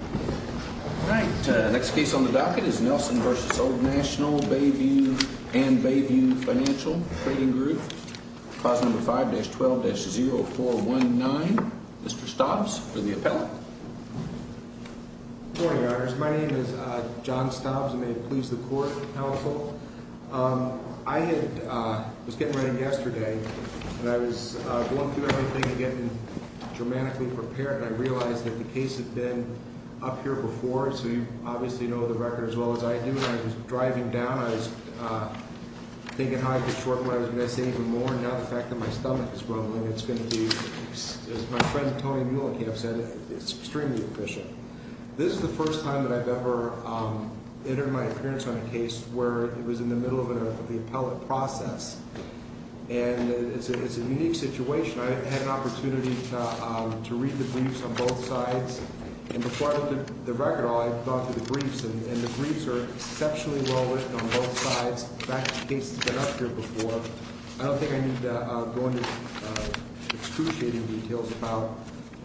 All right. Next case on the docket is Nelson v. Old National Bayview and Bayview Financial Trading Group. Clause number 5-12-0419. Mr. Stobbs for the appellant. Good morning, Your Honors. My name is John Stobbs, and may it please the Court, Counsel. I was getting ready yesterday, and I was going through everything and getting dramatically prepared, and I realized that the case had been up here before, so you obviously know the record as well as I do. And I was driving down. I was thinking how I could shorten what I was going to say even more, and now the fact that my stomach is grumbling, it's going to be, as my friend Tony Muellenkamp said, extremely efficient. This is the first time that I've ever entered my appearance on a case where it was in the middle of the appellate process, and it's a unique situation. I had an opportunity to read the briefs on both sides, and before I looked at the record at all, I thought through the briefs, and the briefs are exceptionally well written on both sides. In fact, the case has been up here before. I don't think I need to go into excruciating details about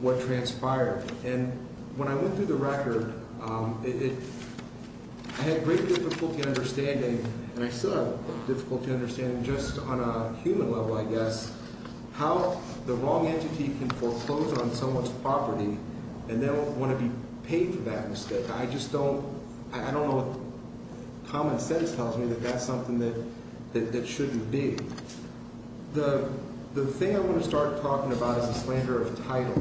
what transpired. And when I went through the record, I had great difficulty understanding, and I still have difficulty understanding, just on a human level, I guess, how the wrong entity can foreclose on someone's property, and they'll want to be paid for that mistake. I just don't – I don't know what common sense tells me that that's something that shouldn't be. The thing I want to start talking about is the slander of title,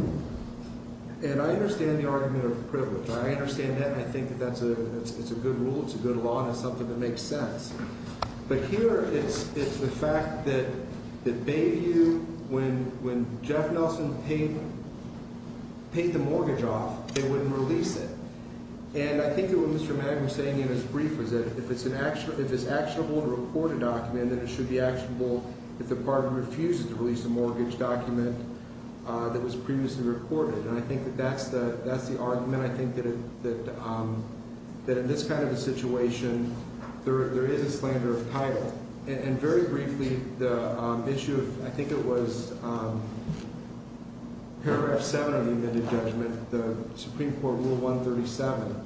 and I understand the argument of privilege. I understand that, and I think that that's a – it's a good rule, it's a good law, and it's something that makes sense. But here it's the fact that Bayview, when Jeff Nelson paid the mortgage off, they wouldn't release it. And I think that what Mr. Magner was saying in his brief was that if it's actionable to report a document, then it should be actionable if the party refuses to release a mortgage document that was previously reported. And I think that that's the argument, I think, that in this kind of a situation, there is a slander of title. And very briefly, the issue of – I think it was Paragraph 7 of the amended judgment, the Supreme Court Rule 137.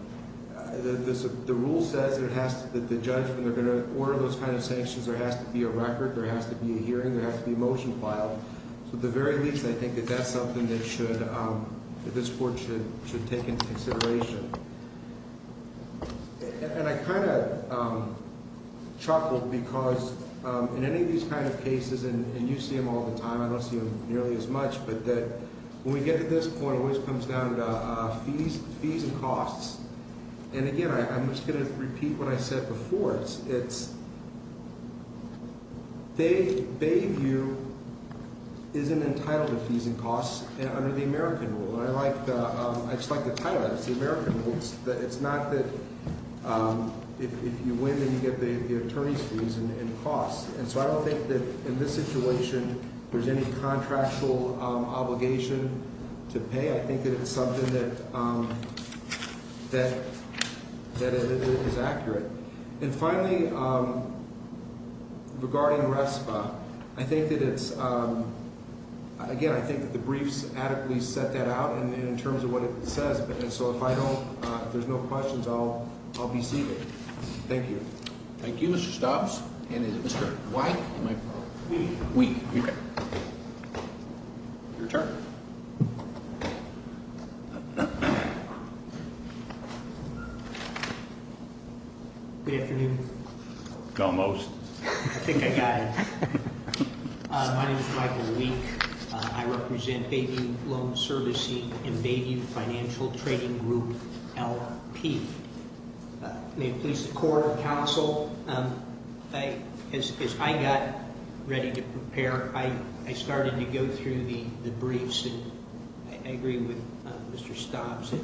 The rule says that it has to – that the judge, when they're going to order those kind of sanctions, there has to be a record, there has to be a hearing, there has to be a motion filed. So at the very least, I think that that's something that should – that this Court should take into consideration. And I kind of chuckled because in any of these kind of cases, and you see them all the time, I don't see them nearly as much, but that when we get to this point, it always comes down to fees and costs. And again, I'm just going to repeat what I said before. It's – Bayview isn't entitled to fees and costs under the American rule. And I like the – I just like the title of it. It's the American rules. It's not that if you win, then you get the attorney's fees and costs. And so I don't think that in this situation, there's any contractual obligation to pay. I think that it's something that is accurate. And finally, regarding RESPA, I think that it's – again, I think that the briefs adequately set that out in terms of what it says. And so if I don't – if there's no questions, I'll be seated. Thank you. Thank you, Mr. Stubbs. And is it Mr. White? We. We. Your turn. Good afternoon. Go most. I think I got it. My name is Michael Week. I represent Bayview Loan Servicing and Bayview Financial Trading Group, LP. May it please the Court and Counsel, as I got ready to prepare, I started to go through the briefs. And I agree with Mr. Stubbs that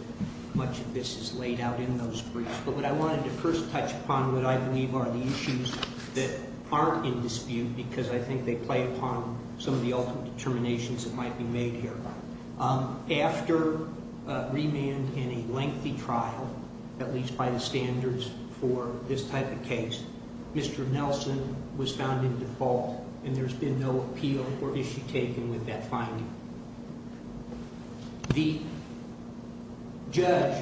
much of this is laid out in those briefs. But what I wanted to first touch upon what I believe are the issues that aren't in dispute because I think they play upon some of the ultimate determinations that might be made here. After remand in a lengthy trial, at least by the standards for this type of case, Mr. Nelson was found in default, and there's been no appeal or issue taken with that finding. The judge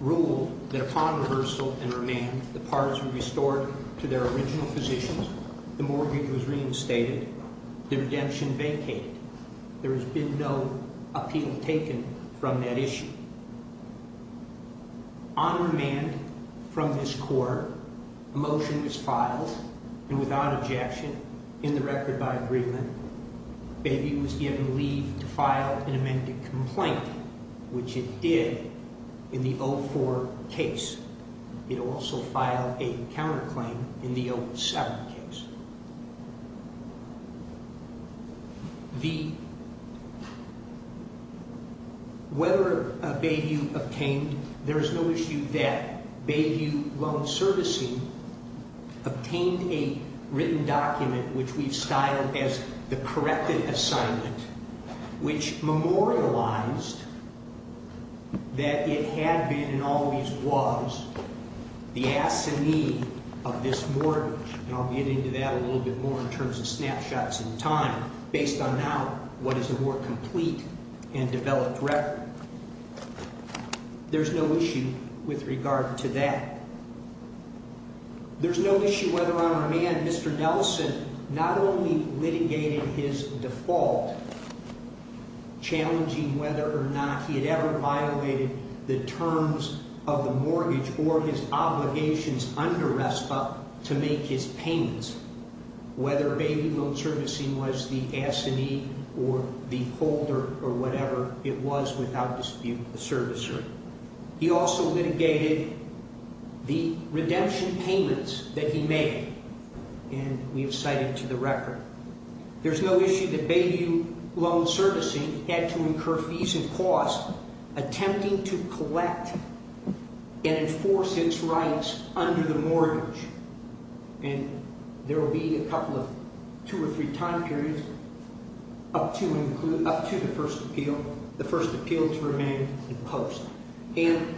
ruled that upon reversal and remand, the parts were restored to their original positions, the mortgage was reinstated, the redemption vacated. There has been no appeal taken from that issue. On remand from this Court, a motion is filed, and without objection, in the record by agreement, Bayview was given leave to file an amended complaint, which it did in the 04 case. It also filed a counterclaim in the 07 case. Whether Bayview obtained, there is no issue that Bayview Loan Servicing obtained a written document which we've styled as the corrected assignment, which memorialized that it had been and always was the assignee of this mortgage, and I'll get into that a little bit more in terms of snapshots in time, based on now what is a more complete and developed record. There's no issue with regard to that. There's no issue whether on remand Mr. Nelson not only litigated his default, challenging whether or not he had ever violated the terms of the mortgage or his obligations under RESPA to make his payments, whether Bayview Loan Servicing was the assignee or the holder or whatever it was, without dispute, the servicer. He also litigated the redemption payments that he made, and we have cited to the record. There's no issue that Bayview Loan Servicing had to incur fees and costs attempting to collect and enforce its rights under the mortgage, and there will be a couple of, two or three time periods up to the first appeal, the first appeal to remand in post, and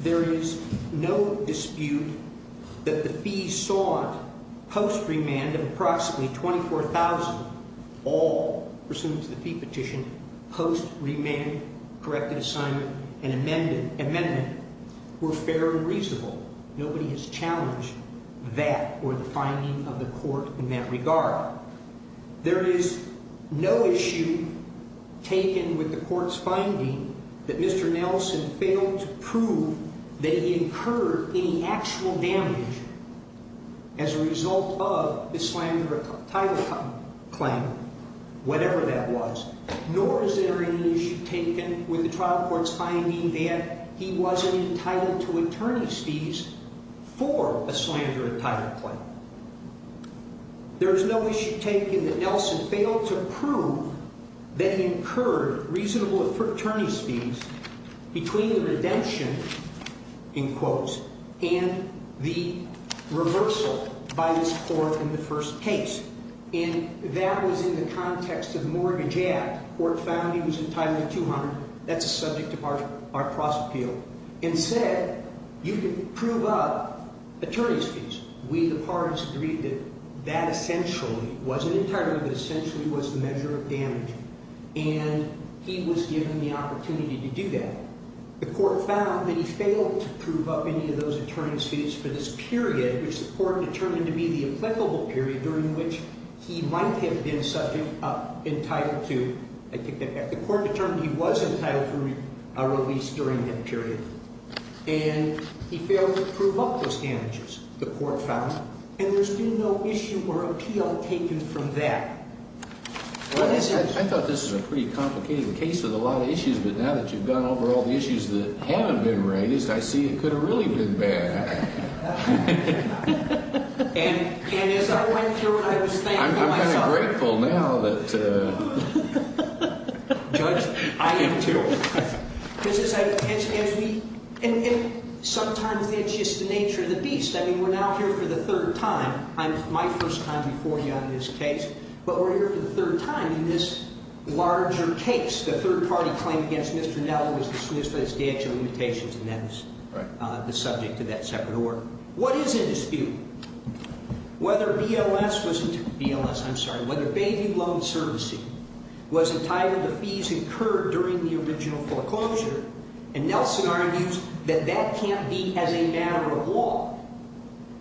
there is no dispute that the fees sought post remand of approximately $24,000 all, pursuant to the fee petition, post remand corrected assignment and amendment were fair and reasonable. Nobody has challenged that or the finding of the court in that regard. There is no issue taken with the court's finding that Mr. Nelson failed to prove that he incurred any actual damage as a result of the slander title claim, whatever that was, nor is there any issue taken with the trial court's finding that he wasn't entitled to attorney's fees for a slander title claim. There is no issue taken that Nelson failed to prove that he incurred reasonable attorney's fees between the redemption, in quotes, and the reversal by this court in the first case, and that was in the context of mortgage act. The court found he was entitled to $200,000. That's a subject of our cross appeal, and said you can prove up attorney's fees. We, the parties, agreed that that essentially wasn't entitled, but essentially was the measure of damage, and he was given the opportunity to do that. The court found that he failed to prove up any of those attorney's fees for this period, which the court determined to be the applicable period during which he might have been subject, entitled to, I think the court determined he was entitled to a release during that period, and he failed to prove up those damages, the court found, and there's been no issue or appeal taken from that. I thought this was a pretty complicated case with a lot of issues, but now that you've gone over all the issues that haven't been raised, I see it could have really been bad. And as I went through it, I was thankful. I'm kind of grateful now that. Judge, I am too. Because as we, and sometimes it's just the nature of the beast. I mean, we're now here for the third time. My first time before you on this case, but we're here for the third time in this larger case, the third-party claim against Mr. Nelson was dismissed by the statute of limitations, and that is the subject of that second order. What is in dispute? Whether BLS was entitled to fees incurred during the original foreclosure, and Nelson argues that that can't be as a matter of law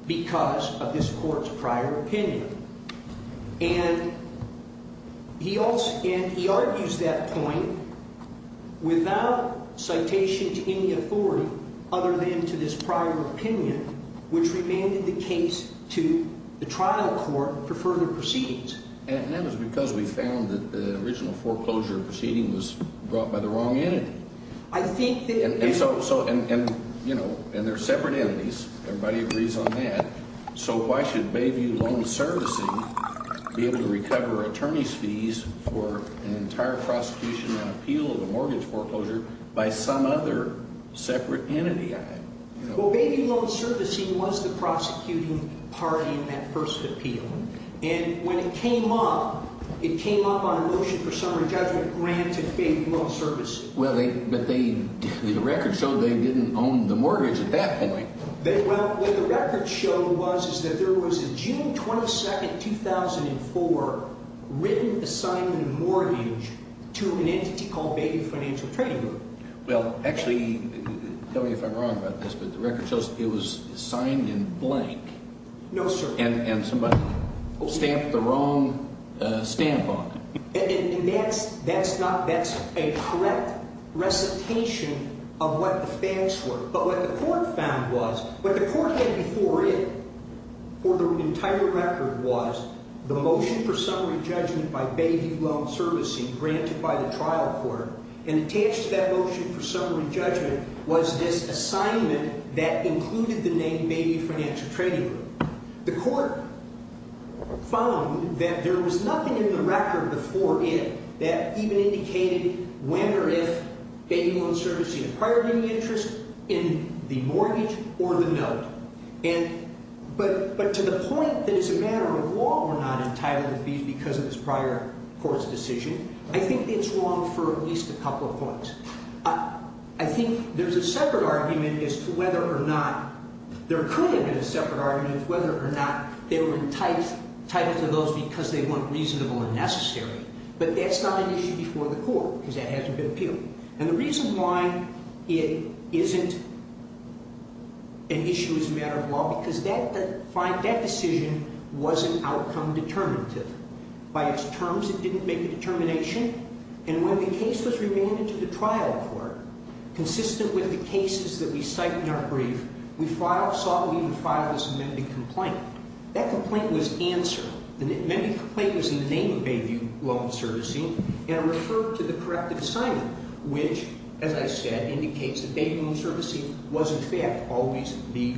because of this court's prior opinion. And he argues that point without citation to any authority other than to this prior opinion, which remanded the case to the trial court for further proceedings. And that was because we found that the original foreclosure proceeding was brought by the wrong entity. I think that. And there are separate entities. Everybody agrees on that. So why should Bayview Loan Servicing be able to recover attorney's fees for an entire prosecution and appeal of a mortgage foreclosure by some other separate entity? Well, Bayview Loan Servicing was the prosecuting party in that first appeal. And when it came up, it came up on a motion for summary judgment granted Bayview Loan Servicing. Well, but the records show they didn't own the mortgage at that point. Well, what the records show was is that there was a June 22, 2004, written assignment of mortgage to an entity called Bayview Financial Trading Group. Well, actually, tell me if I'm wrong about this, but the records show it was signed in blank. No, sir. And somebody stamped the wrong stamp on it. And that's a correct recitation of what the facts were. But what the court found was what the court had before it for the entire record was the motion for summary judgment by Bayview Loan Servicing granted by the trial court. And attached to that motion for summary judgment was this assignment that included the name Bayview Financial Trading Group. The court found that there was nothing in the record before it that even indicated when or if Bayview Loan Servicing acquired any interest in the mortgage or the note. But to the point that as a matter of law we're not entitled to these because of this prior court's decision, I think it's wrong for at least a couple of points. I think there's a separate argument as to whether or not there could have been a separate argument as to whether or not they were entitled to those because they weren't reasonable and necessary. But that's not an issue before the court because that hasn't been appealed. And the reason why it isn't an issue as a matter of law because that decision wasn't outcome determinative. By its terms it didn't make a determination. And when the case was remanded to the trial court, consistent with the cases that we cite in our brief, we filed, sought, and even filed this amended complaint. That complaint was answered. The amended complaint was in the name of Bayview Loan Servicing and referred to the corrective assignment, which, as I said, indicates that Bayview Loan Servicing was in fact always the...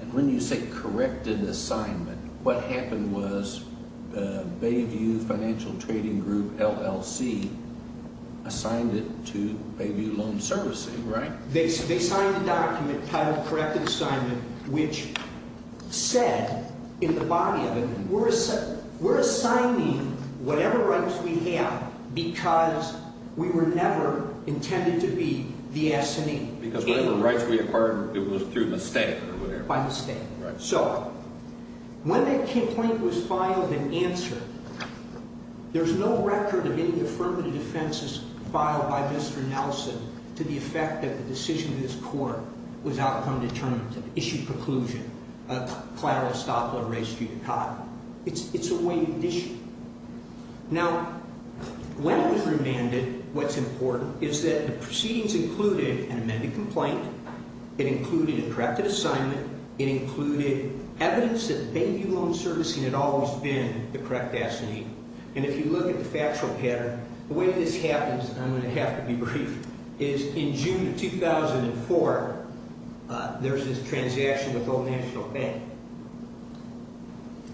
And when you say corrected assignment, what happened was Bayview Financial Trading Group, LLC, assigned it to Bayview Loan Servicing, right? They signed a document titled corrected assignment, which said in the body of it, we're assigning whatever rights we have because we were never intended to be the assignee. Because whatever rights we acquired, it was through mistake or whatever. By mistake. Right. So when that complaint was filed and answered, there's no record of any affirmative defenses filed by Mr. Nelson to the effect that the decision of this court was outcome determinative, issued preclusion, a collateral estoppel or res judicata. It's a weighted issue. Now, when it was remanded, what's important is that the proceedings included an amended complaint. It included a corrective assignment. It included evidence that Bayview Loan Servicing had always been the correct assignee. And if you look at the factual pattern, the way this happens, and I'm going to have to be brief, is in June of 2004, there was this transaction with Old National Bank.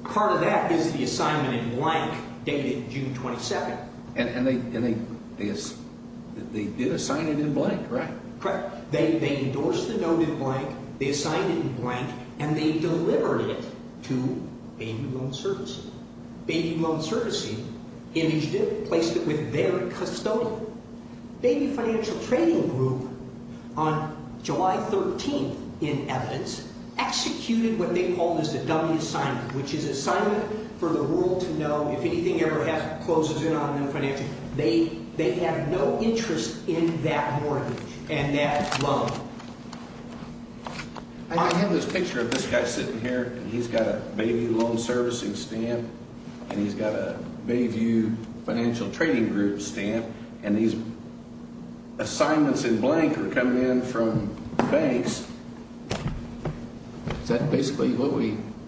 Part of that is the assignment in blank dated June 27. And they did assign it in blank, right? Correct. They endorsed the note in blank. They assigned it in blank, and they delivered it to Bayview Loan Servicing. Bayview Loan Servicing imaged it, placed it with their custodian. Bayview Financial Trading Group, on July 13, in evidence, executed what they called the dummy assignment, which is assignment for the world to know if anything ever closes in on them financially. They have no interest in that mortgage and that loan. I have this picture of this guy sitting here, and he's got a Bayview Loan Servicing stamp, and he's got a Bayview Financial Trading Group stamp, and these assignments in blank are coming in from banks. Is that basically what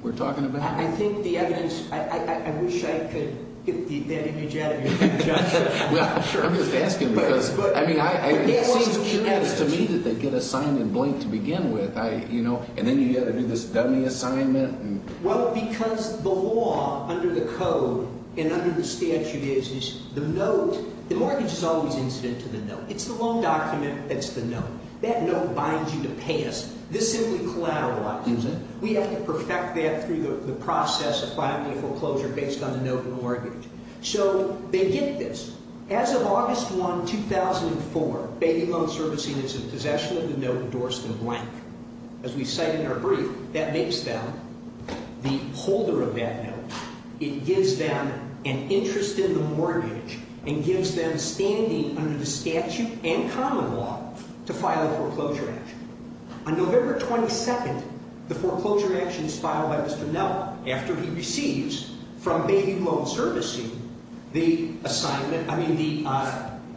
we're talking about? I think the evidence, I wish I could get that image out of your head, Judge. I'm just asking because, I mean, it seems curious to me that they get assigned in blank to begin with, and then you've got to do this dummy assignment. Well, because the law under the code and under the statute is the note, the mortgage is always incident to the note. It's the loan document that's the note. That note binds you to pay us. This simply collateralizes it. We have to perfect that through the process of finding a foreclosure based on the note in the mortgage. So they get this. As of August 1, 2004, Bayview Loan Servicing is in possession of the note endorsed in blank. As we cite in our brief, that makes them the holder of that note. It gives them an interest in the mortgage and gives them standing under the statute and common law to file a foreclosure action. On November 22, the foreclosure action is filed by Mr. Nell after he receives from Bayview Loan Servicing the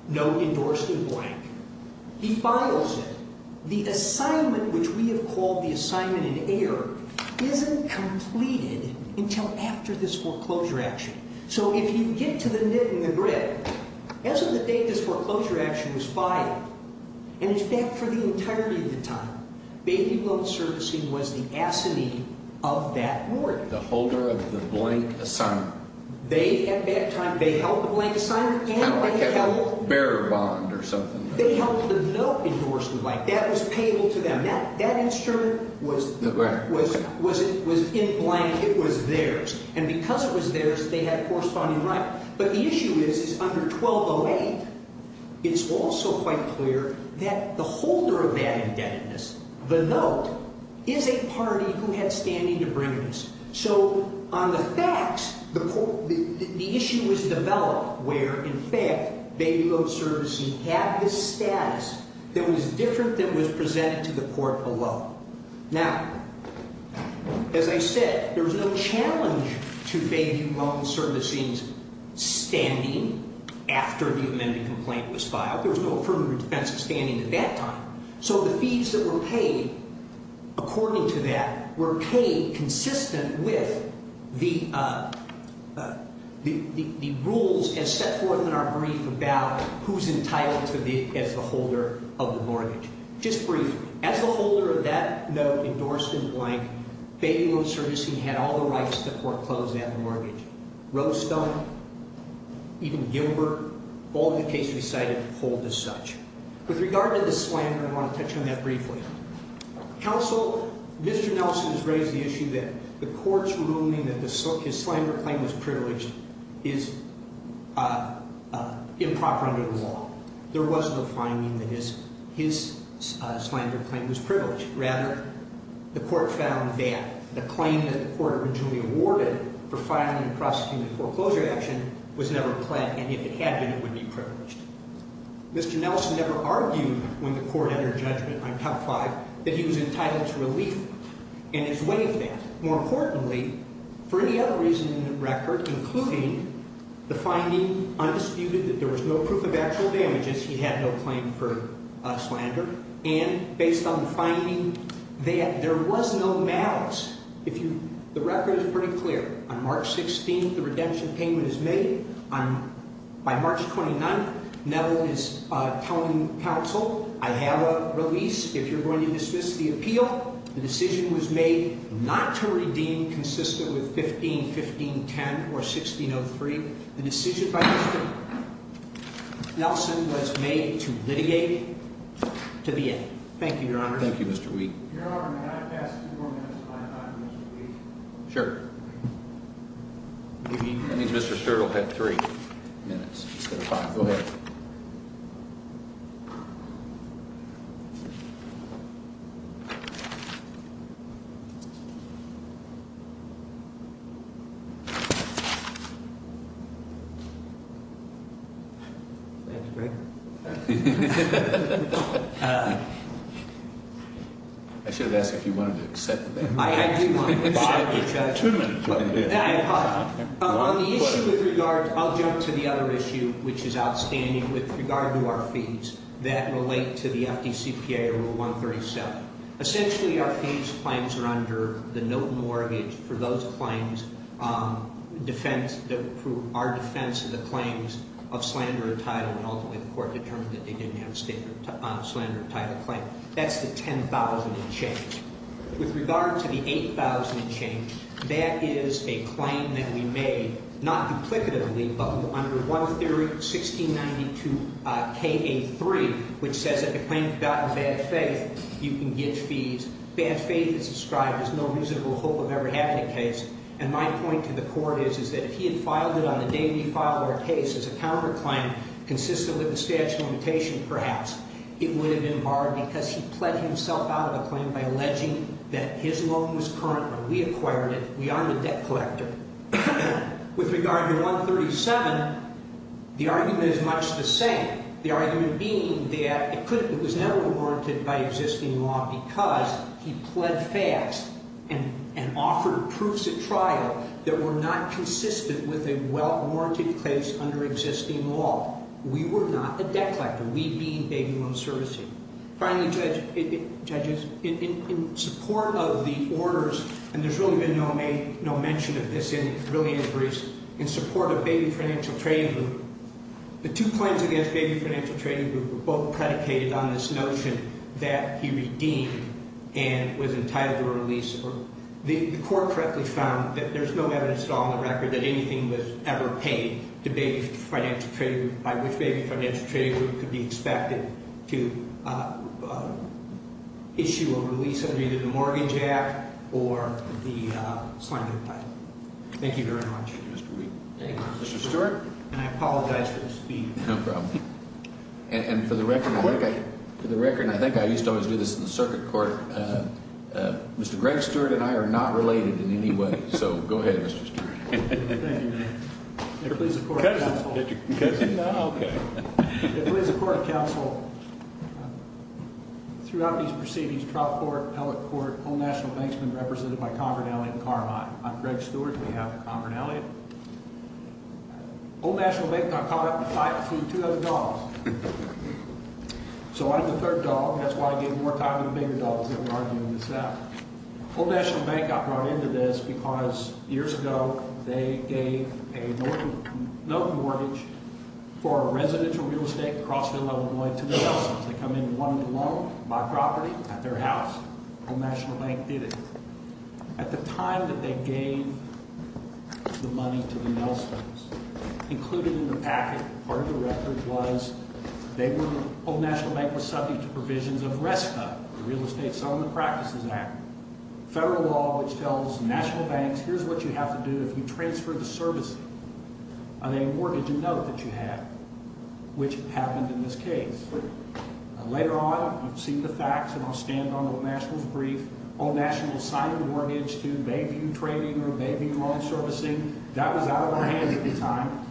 note endorsed in blank. He files it. The assignment, which we have called the assignment in error, isn't completed until after this foreclosure action. So if you get to the nit and the grit, as of the date this foreclosure action was filed, and in fact for the entirety of the time, Bayview Loan Servicing was the assignee of that mortgage. The holder of the blank assignment. They, at that time, they held the blank assignment. Kind of like a bearer bond or something. They held the note endorsed in blank. That was payable to them. That instrument was in blank. It was theirs. And because it was theirs, they had a corresponding right. But the issue is, is under 1208, it's also quite clear that the holder of that indebtedness, the note, is a party who had standing to bring this. So on the facts, the issue was developed where, in fact, Bayview Loan Servicing had this status that was different than was presented to the court below. Now, as I said, there was no challenge to Bayview Loan Servicing's standing after the amended complaint was filed. There was no further defensive standing at that time. So the fees that were paid according to that were paid consistent with the rules as set forth in our brief about who's entitled to be as the holder of the mortgage. Just briefly, as the holder of that note endorsed in blank, Bayview Loan Servicing had all the rights to foreclose that mortgage. Rose Stone, even Gilbert, all the cases cited, hold as such. With regard to the slammer, I want to touch on that briefly. Counsel, Mr. Nelson has raised the issue that the court's ruling that his slammer claim was privileged is improper under the law. There was no finding that his slammer claim was privileged. Rather, the court found that the claim that the court originally awarded for filing and prosecuting the foreclosure action was never pled, and if it had been, it would be privileged. Mr. Nelson never argued when the court entered judgment on Cup 5 that he was entitled to relief in his way of that. More importantly, for any other reason in the record, including the finding undisputed that there was no proof of actual damages, he had no claim for a slander. And based on the finding, there was no malice. The record is pretty clear. On March 16th, the redemption payment is made. By March 29th, Neville is telling counsel, I have a release if you're going to dismiss the appeal. The decision was made not to redeem consistent with 15-15-10 or 16-03. The decision by Mr. Nelson was made to litigate to the end. Thank you, Your Honor. Thank you, Mr. Wheat. Your Honor, may I ask for four minutes of my time, Mr. Wheat? Sure. That means Mr. Sterl will have three minutes instead of five. Go ahead. I should have asked if you wanted to accept that. Two minutes would have been good. On the issue with regard, I'll jump to the other issue, which is outstanding with regard to our fees that relate to the FDCPA, Rule 137. Essentially, our fees claims are under the note mortgage for those claims, our defense of the claims of slander or title. And ultimately, the court determined that they didn't have a slander or title claim. That's the $10,000 change. With regard to the $8,000 change, that is a claim that we made, not duplicatively, but under 1-1692-K-83, which says that the claim has gotten bad faith. You can get fees. Bad faith is described as no reasonable hope of ever having a case. And my point to the court is, is that if he had filed it on the day we filed our case as a counterclaim consistent with the statute of limitation, perhaps, it would have been barred because he pled himself out of the claim by alleging that his loan was current when we acquired it. We aren't a debt collector. With regard to 137, the argument is much the same. The argument being that it was never warranted by existing law because he pled fast and offered proofs at trial that were not consistent with a warranted case under existing law. We were not a debt collector. We being Baby Loan Servicing. Finally, judges, in support of the orders, and there's really been no mention of this in brilliant briefs, in support of Baby Financial Trading Group, the two claims against Baby Financial Trading Group were both predicated on this notion that he redeemed and was entitled to a release. The court correctly found that there's no evidence at all in the record that anything was ever paid to Baby Financial Trading Group, by which Baby Financial Trading Group could be expected to issue a release under either the Mortgage Act or the slender plan. Thank you very much. Thank you, Mr. Stewart. And I apologize for the speed. No problem. And for the record, I think I used to always do this in the circuit court. Mr. Greg Stewart and I are not related in any way. So go ahead, Mr. Stewart. Thank you. Please support counsel. Okay. Please support counsel. Throughout these proceedings, trial court, appellate court, all national banks have been represented by Conrad Elliott and Carmine. I'm Greg Stewart. We have Conrad Elliott. Old National Bank got caught up in a fight between two other dogs. So I'm the third dog. That's why I gave more time to the bigger dogs that were arguing this out. Old National Bank got brought into this because years ago they gave a loan mortgage for a residential real estate in Crossville, Illinois, to the Nelson's. They come in and wanted to loan my property at their house. Old National Bank did it. At the time that they gave the money to the Nelson's, included in the packet, part of the record was Old National Bank was subject to provisions of RESPA, the Real Estate Settlement Practices Act. Federal law, which tells national banks, here's what you have to do if you transfer the service of a mortgage, a note that you have, which happened in this case. Later on, I've seen the facts, and I'll stand on Old National's brief. Old National signed the mortgage to baby trading or baby loan servicing. That was out of our hands at the time.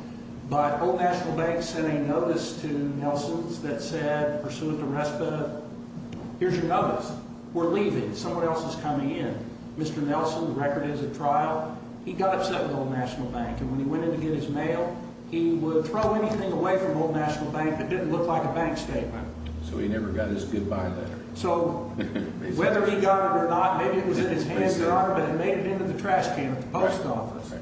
But Old National Bank sent a notice to Nelson's that said, pursuant to RESPA, here's your notice. We're leaving. Someone else is coming in. Mr. Nelson, the record is at trial. He got upset with Old National Bank. And when he went in to get his mail, he would throw anything away from Old National Bank that didn't look like a bank statement. So he never got his goodbye letter. So whether he got it or not, maybe it was in his hands, but it made it into the trash can at the post office.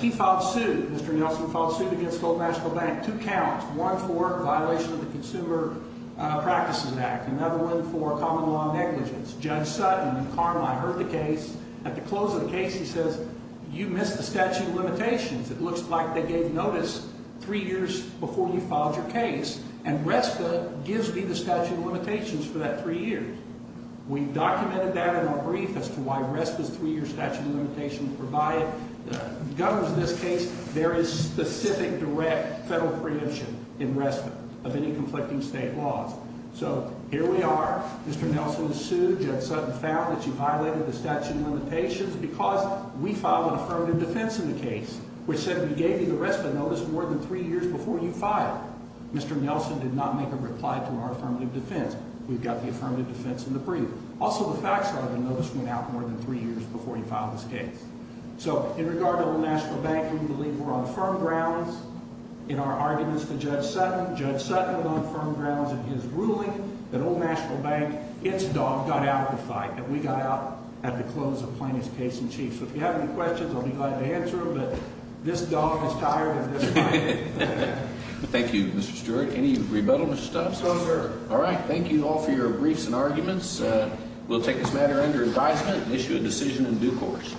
He filed suit. Mr. Nelson filed suit against Old National Bank, two counts, one for violation of the Consumer Practices Act, another one for common law negligence. Judge Sutton and Carmine heard the case. At the close of the case, he says, you missed the statute of limitations. It looks like they gave notice three years before you filed your case. And RESPA gives me the statute of limitations for that three years. We documented that in our brief as to why RESPA's three-year statute of limitations provided. Governors of this case, there is specific direct federal preemption in RESPA of any conflicting state laws. So here we are. Mr. Nelson sued. Judge Sutton found that you violated the statute of limitations because we filed an affirmative defense in the case, which said we gave you the RESPA notice more than three years before you filed. Mr. Nelson did not make a reply to our affirmative defense. We've got the affirmative defense in the brief. Also, the facts are the notice went out more than three years before you filed this case. So in regard to Old National Bank, we believe we're on firm grounds in our arguments to Judge Sutton. Judge Sutton is on firm grounds in his ruling that Old National Bank, its dog, got out of the fight. And we got out at the close of plaintiff's case in chief. So if you have any questions, I'll be glad to answer them. But this dog is tired of this fight. Thank you, Mr. Stewart. Any rebuttal, Mr. Stubbs? No, sir. All right. Thank you all for your briefs and arguments. We'll take this matter under advisement and issue a decision in due course.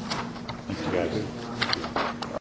Thank you, guys.